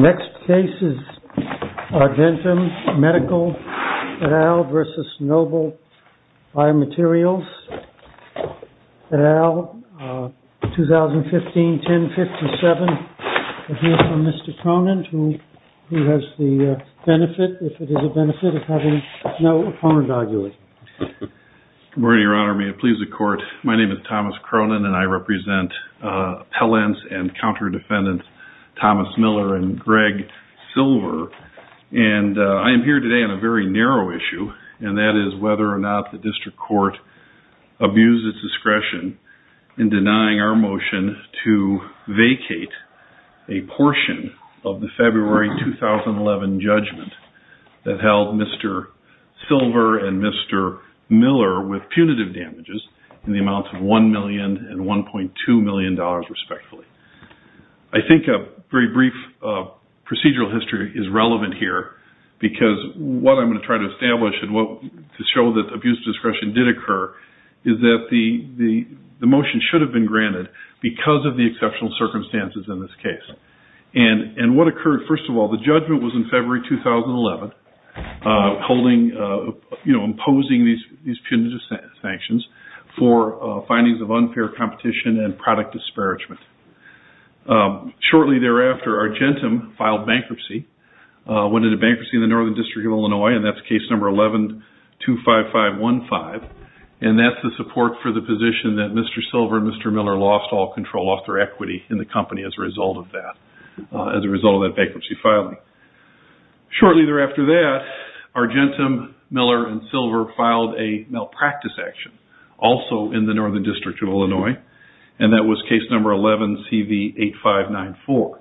Next case is Argentum Medical et al. versus Noble Biomaterials et al., 2015, 10-57. We'll hear from Mr. Cronin, who has the benefit, if it is a benefit, of having no opponent arguing. Good morning, Your Honor. May it please the Court, my name is Thomas Cronin, and I represent appellants and counter-defendants Thomas Miller and Greg Silver. And I am here today on a very narrow issue, and that is whether or not the District Court abused its discretion in denying our motion to vacate a portion of the February 2011 judgment that held Mr. Silver and Mr. Miller with punitive damages in the amounts of $1 million and $1.2 million, respectfully. I think a very brief procedural history is relevant here, because what I'm going to try to establish to show that abuse of discretion did occur is that the motion should have been granted because of the exceptional circumstances in this case. And what occurred, first of all, the judgment was in February 2011, holding, you know, imposing these punitive sanctions for findings of unfair competition and product disparagement. Shortly thereafter, Argentum filed bankruptcy, went into bankruptcy in the Northern District of Illinois, and that's case number 11-25515, and that's the support for the position that Mr. Silver and Mr. Miller lost all control of their equity in the company as a result of that, as a result of that bankruptcy filing. Shortly thereafter that, Argentum, Miller, and Silver filed a malpractice action, also in the Northern District of Illinois, and that was case number 11-CV8594.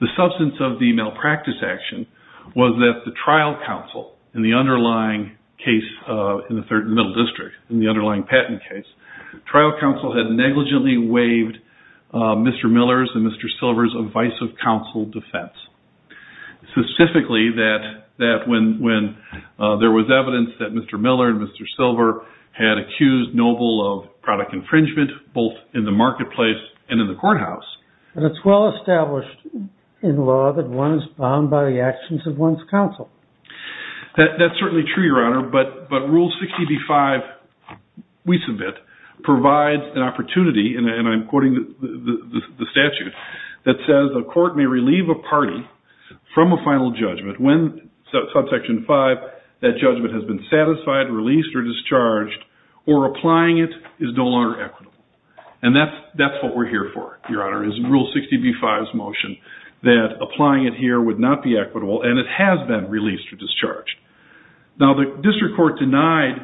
The substance of the malpractice action was that the trial counsel in the underlying case in the Middle District, in the underlying patent case, trial counsel had negligently waived Mr. Miller's and Mr. Silver's advice of counsel defense. Specifically, that when there was evidence that Mr. Miller and Mr. Silver had accused Noble of product infringement, both in the marketplace and in the courthouse. But it's well established in law that one is bound by the actions of one's counsel. That's certainly true, Your Honor, but Rule 60b-5, we submit, provides an opportunity and I'm quoting the statute that says, a court may relieve a party from a final judgment when, subsection 5, that judgment has been satisfied, released, or discharged, or applying it is no longer equitable. And that's what we're here for, Your Honor, is Rule 60b-5's motion that applying it here would not be equitable and it has been released or discharged. Now, the district court denied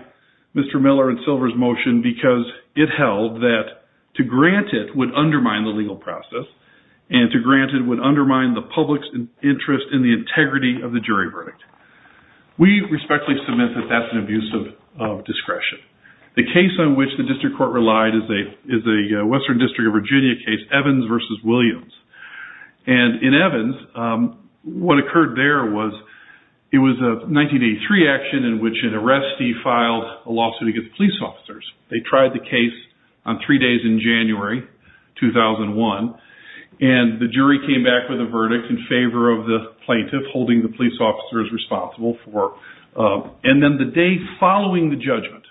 Mr. Miller and Silver's motion because it held that to grant it would undermine the legal process and to grant it would undermine the public's interest in the integrity of the jury verdict. We respectfully submit that that's an abuse of discretion. The case on which the district court relied is a Western District of Virginia case, Evans versus Williams. And in Evans, what occurred there was, it was a 1983 action in which an arrestee filed a lawsuit against police officers. They tried the case on three days in January, 2001, and the jury came back with a verdict in favor of the plaintiff holding the police officers responsible for... And then the day following the judgment,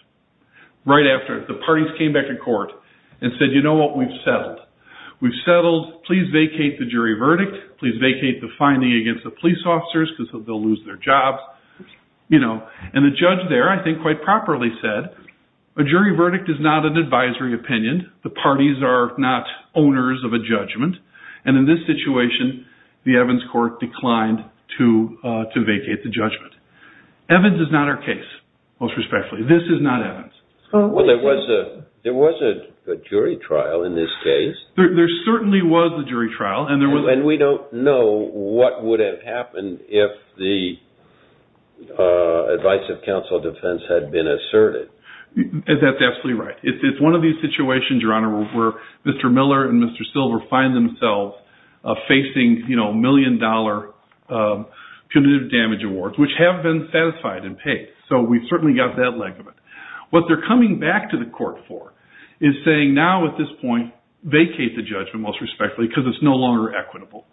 right after, the parties came back to court and said, you know what, we've settled. We've settled. Please vacate the jury verdict. Please vacate the finding against the police officers because they'll lose their jobs. You know, and the judge there, I think, quite properly said, a jury verdict is not an advisory opinion. The parties are not owners of a judgment. And in this situation, the Evans court declined to vacate the judgment. Evans is not our case, most respectfully. This is not Evans. Well, there was a jury trial in this case. There certainly was a jury trial. And we don't know what would have happened if the advice of counsel of defense had been asserted. That's absolutely right. It's one of these situations, Your Honor, where Mr. Miller and Mr. Silver find themselves facing, you know, million-dollar punitive damage awards, which have been satisfied and paid. So we've certainly got that leg of it. What they're coming back to the court for is saying, now, at this point, vacate the judgment, most respectfully, because it's no longer equitable.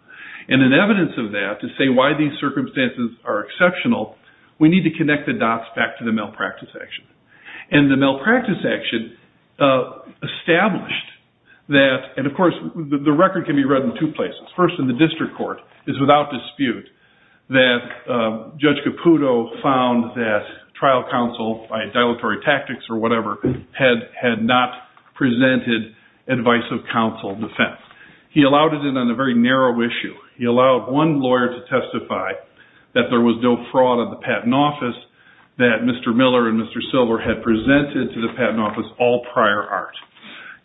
And in evidence of that, to say why these circumstances are exceptional, we need to connect the dots back to the malpractice action. And the malpractice action established that, and of course, the record can be read in two places. First, in the district court, it's without dispute that Judge Caputo found that trial counsel, by dilatory tactics or whatever, had not presented advice of counsel of defense. He allowed it in on a very narrow issue. He allowed one lawyer to testify that there was no fraud of the patent office, that Mr. Miller and Mr. Silver had presented to the patent office all prior art.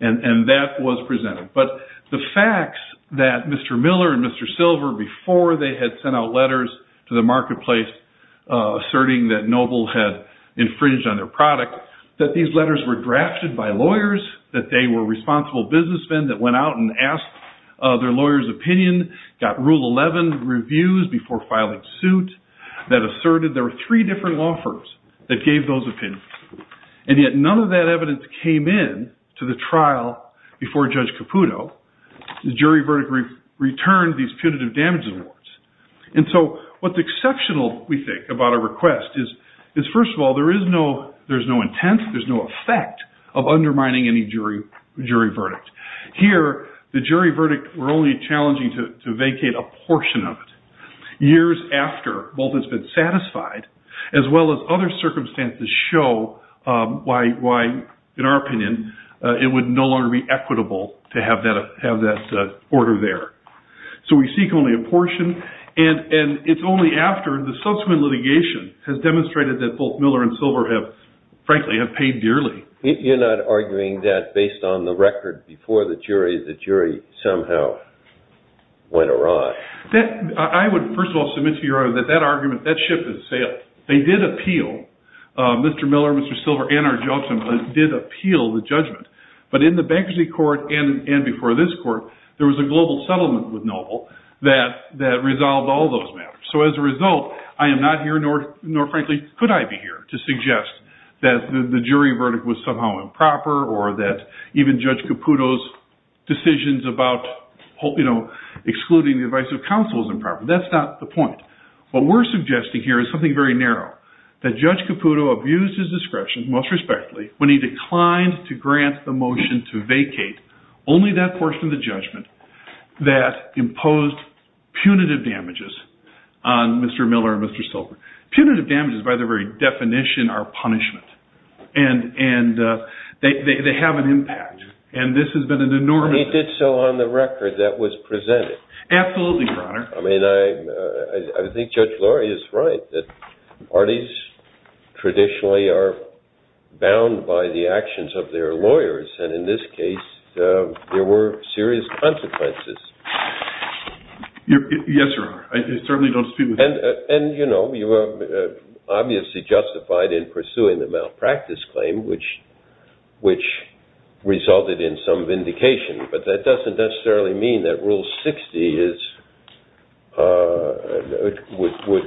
And that was presented. But the facts that Mr. Miller and Mr. Silver, before they had sent out letters to the marketplace asserting that Noble had infringed on their product, that these letters were drafted by lawyers, that they were responsible businessmen that went out and asked their lawyers' opinion, got Rule 11 reviews before filing suit, that asserted there were three different law firms that gave those opinions. And yet, none of that evidence came in to the trial before Judge Caputo. The jury verdict returned these punitive damages awards. And so, what's exceptional, we think, about a request is, first of all, there's no intent, there's no effect of undermining any jury verdict. Here, the jury verdict, we're only challenging to vacate a portion of it. Years after, both has been satisfied, as well as other circumstances show why, in our opinion, it would no longer be equitable to have that order there. So, we seek only a portion. And it's only after the subsequent litigation has demonstrated that both Miller and Silver have, frankly, have paid dearly. You're not arguing that based on the record before the jury, the jury somehow went awry? I would, first of all, submit to your honor that that argument, that ship has sailed. They did appeal, Mr. Miller, Mr. Silver, and our judges did appeal the judgment. But in the bankruptcy court and before this court, there was a global settlement with Noble that resolved all those matters. So, as a result, I am not here, nor, frankly, could I be here, to suggest that the jury verdict was somehow improper or that even Judge Caputo's decisions about, you know, excluding the advice of counsel was improper. That's not the point. What we're suggesting here is something very narrow, that Judge Caputo abused his motion to vacate only that portion of the judgment that imposed punitive damages on Mr. Miller and Mr. Silver. Punitive damages, by the very definition, are punishment. And they have an impact. And this has been an enormous... But he did so on the record that was presented. Absolutely, your honor. I mean, I think Judge Laurie is right, that parties traditionally are bound by the actions of their lawyers. And in this case, there were serious consequences. Yes, your honor. I certainly don't speak with... And you know, you obviously justified in pursuing the malpractice claim, which resulted in some vindication. But that doesn't necessarily mean that Rule 60 would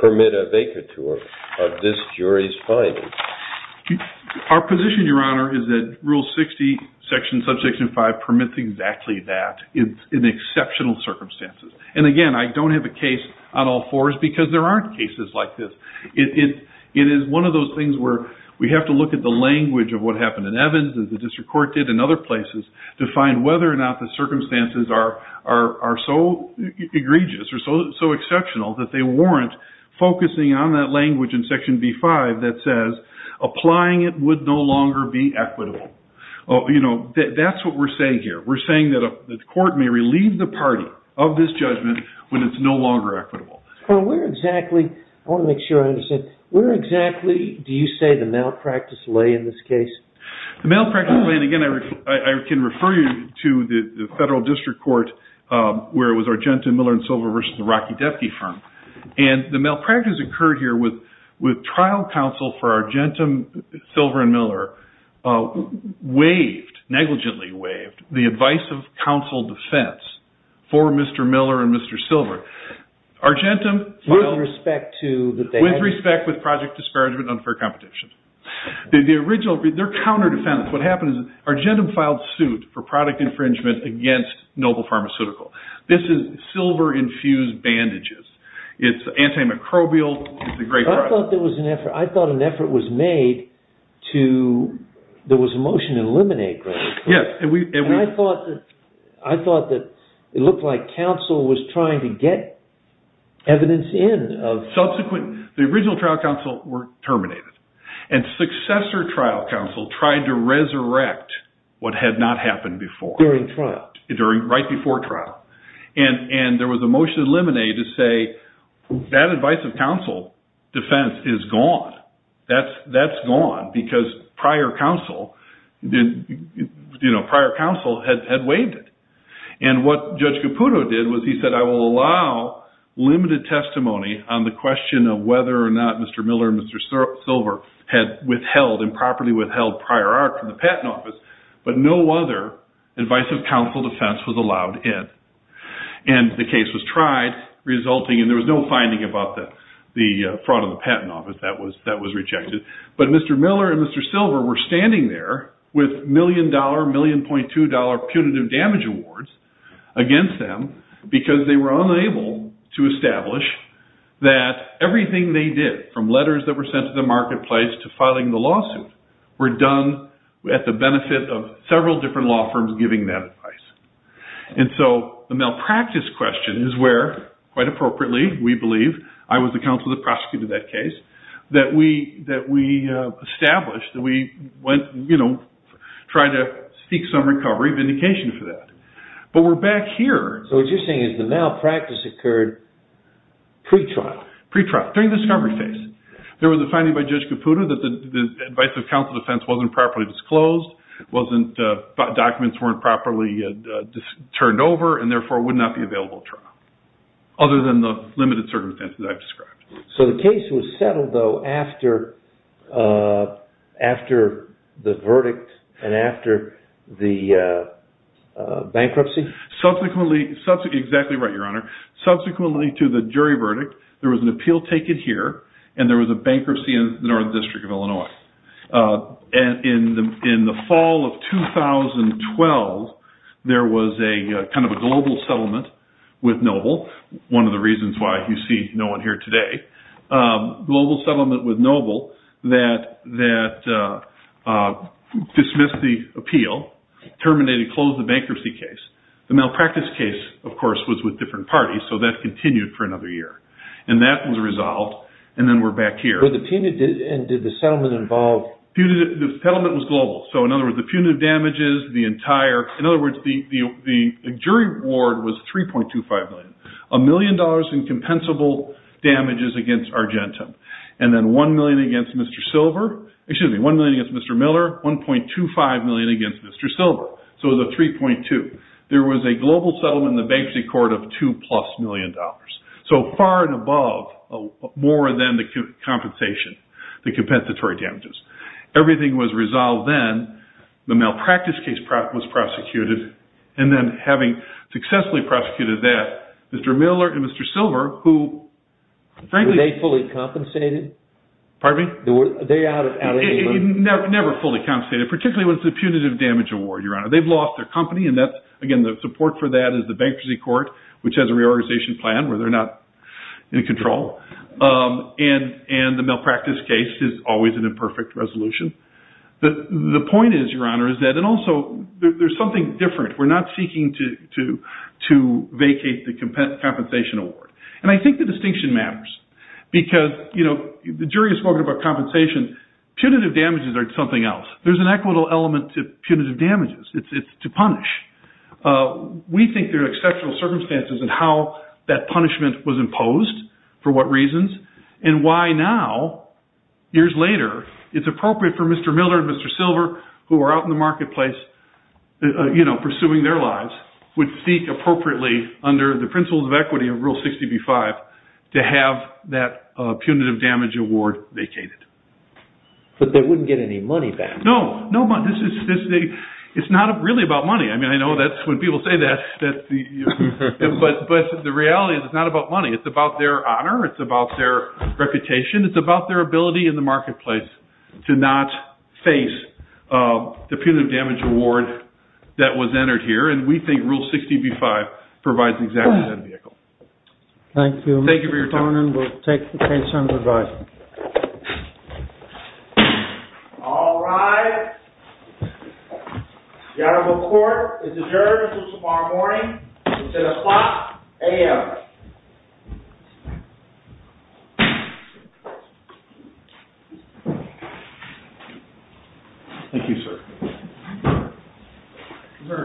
permit a vacatur of this jury's finding. Our position, your honor, is that Rule 60, Section, Subsection 5, permits exactly that in exceptional circumstances. And again, I don't have a case on all fours because there aren't cases like this. It is one of those things where we have to look at the language of what happened in Evans and the district court did in other places to find whether or not the circumstances are so egregious or so exceptional that they warrant focusing on that language in Section B-5 that says, applying it would no longer be equitable. That's what we're saying here. We're saying that the court may relieve the party of this judgment when it's no longer equitable. Where exactly, I want to make sure I understand, where exactly do you say the malpractice lay in this case? The malpractice lay, and again, I can refer you to the federal district court where it was Argenta, Miller & Silver versus the Rocky Devke firm. And the malpractice occurred here with trial counsel for Argenta, Silver, and Miller waived, negligently waived, the advice of counsel defense for Mr. Miller and Mr. Silver. Argenta filed- With respect to- With respect with project disparagement and unfair competition. The original, they're counter defense. What happened is Argenta filed suit for product infringement against Noble Pharmaceutical. This is silver-infused bandages. It's antimicrobial. It's a great product. I thought there was an effort. I thought an effort was made to, there was a motion to eliminate Greggs. Yes, and we- And I thought that it looked like counsel was trying to get evidence in of- Subsequent, the original trial counsel were terminated. And successor trial counsel tried to resurrect what had not happened before. During trial. Right before trial. And there was a motion to eliminate to say, that advice of counsel defense is gone. That's gone because prior counsel had waived it. And what Judge Caputo did was he said, I will allow limited testimony on the question of whether or not Mr. Miller and Mr. Silver had withheld, improperly withheld prior art from the patent office. But no other advice of counsel defense was allowed in. And the case was tried, resulting, and there was no finding about the fraud of the patent office that was rejected. But Mr. Miller and Mr. Silver were standing there with million dollar, million point two dollar punitive damage awards against them because they were unable to establish that everything they did, from letters that were sent to the marketplace to filing the lawsuit, were done at the benefit of several different law firms giving that advice. And so the malpractice question is where, quite appropriately, we believe, I was the counsel that prosecuted that case, that we established, that we went, you know, tried to seek some recovery, vindication for that. But we're back here. So what you're saying is the malpractice occurred pre-trial. Pre-trial. During the discovery phase. There was a finding by Judge Caputo that the advice of counsel defense wasn't properly disclosed, wasn't, documents weren't properly turned over, and therefore would not be available trial. Other than the limited circumstances I've described. So the case was settled, though, after the verdict and after the bankruptcy? Subsequently, exactly right, Your Honor. Subsequently to the jury verdict, there was an appeal taken here and there was a bankruptcy in the North District of Illinois. In the fall of 2012, there was a kind of a global settlement with Noble, one of the reasons why you see no one here today. Global settlement with Noble that dismissed the appeal, terminated, closed the bankruptcy case. The malpractice case, of course, was with different parties, so that continued for another year. And that was resolved, and then we're back here. But the punitive, and did the settlement involve? The settlement was global. So, in other words, the punitive damages, the entire, in other words, the jury award was $3.25 million, a million dollars in compensable damages against Argentum. And then one million against Mr. Silver, excuse me, one million against Mr. Miller, 1.25 million against Mr. Silver. So it was a 3.2. There was a global settlement in the bankruptcy court of two plus million dollars. So far and above, more than the compensation, the compensatory damages. Everything was resolved then. The malpractice case was prosecuted. And then having successfully prosecuted that, Mr. Miller and Mr. Silver, who, frankly- Were they fully compensated? Pardon me? Were they out of LA? Never fully compensated, particularly when it's a punitive damage award, Your Honor. They've lost their company. And that's, again, the support for that is the bankruptcy court, which has a reorganization plan where they're not in control. And the malpractice case is always an imperfect resolution. The point is, Your Honor, is that, and also, there's something different. We're not seeking to vacate the compensation award. And I think the distinction matters because, you know, the jury is talking about compensation. Punitive damages are something else. There's an equitable element to punitive damages. It's to punish. We think there are exceptional circumstances in how that punishment was imposed, for what reasons, and why now, years later, it's appropriate for Mr. Miller and Mr. Silver, who are out in the marketplace, you know, pursuing their lives, would seek appropriately, under the principles of equity of Rule 60b-5, to have that punitive damage award vacated. But they wouldn't get any money back. No. No money. This is, it's not really about money. I mean, I know that's, when people say that, that the, but the reality is, it's not about money. It's about their honor. It's about their reputation. It's about their ability in the marketplace to not face the punitive damage award that was entered here. And we think Rule 60b-5 provides exactly that vehicle. Thank you. Thank you for your time. Mr. Tornan will take the case under review. All rise. The Honorable Court is adjourned until tomorrow morning. It's at a clock a.m. Thank you, sir.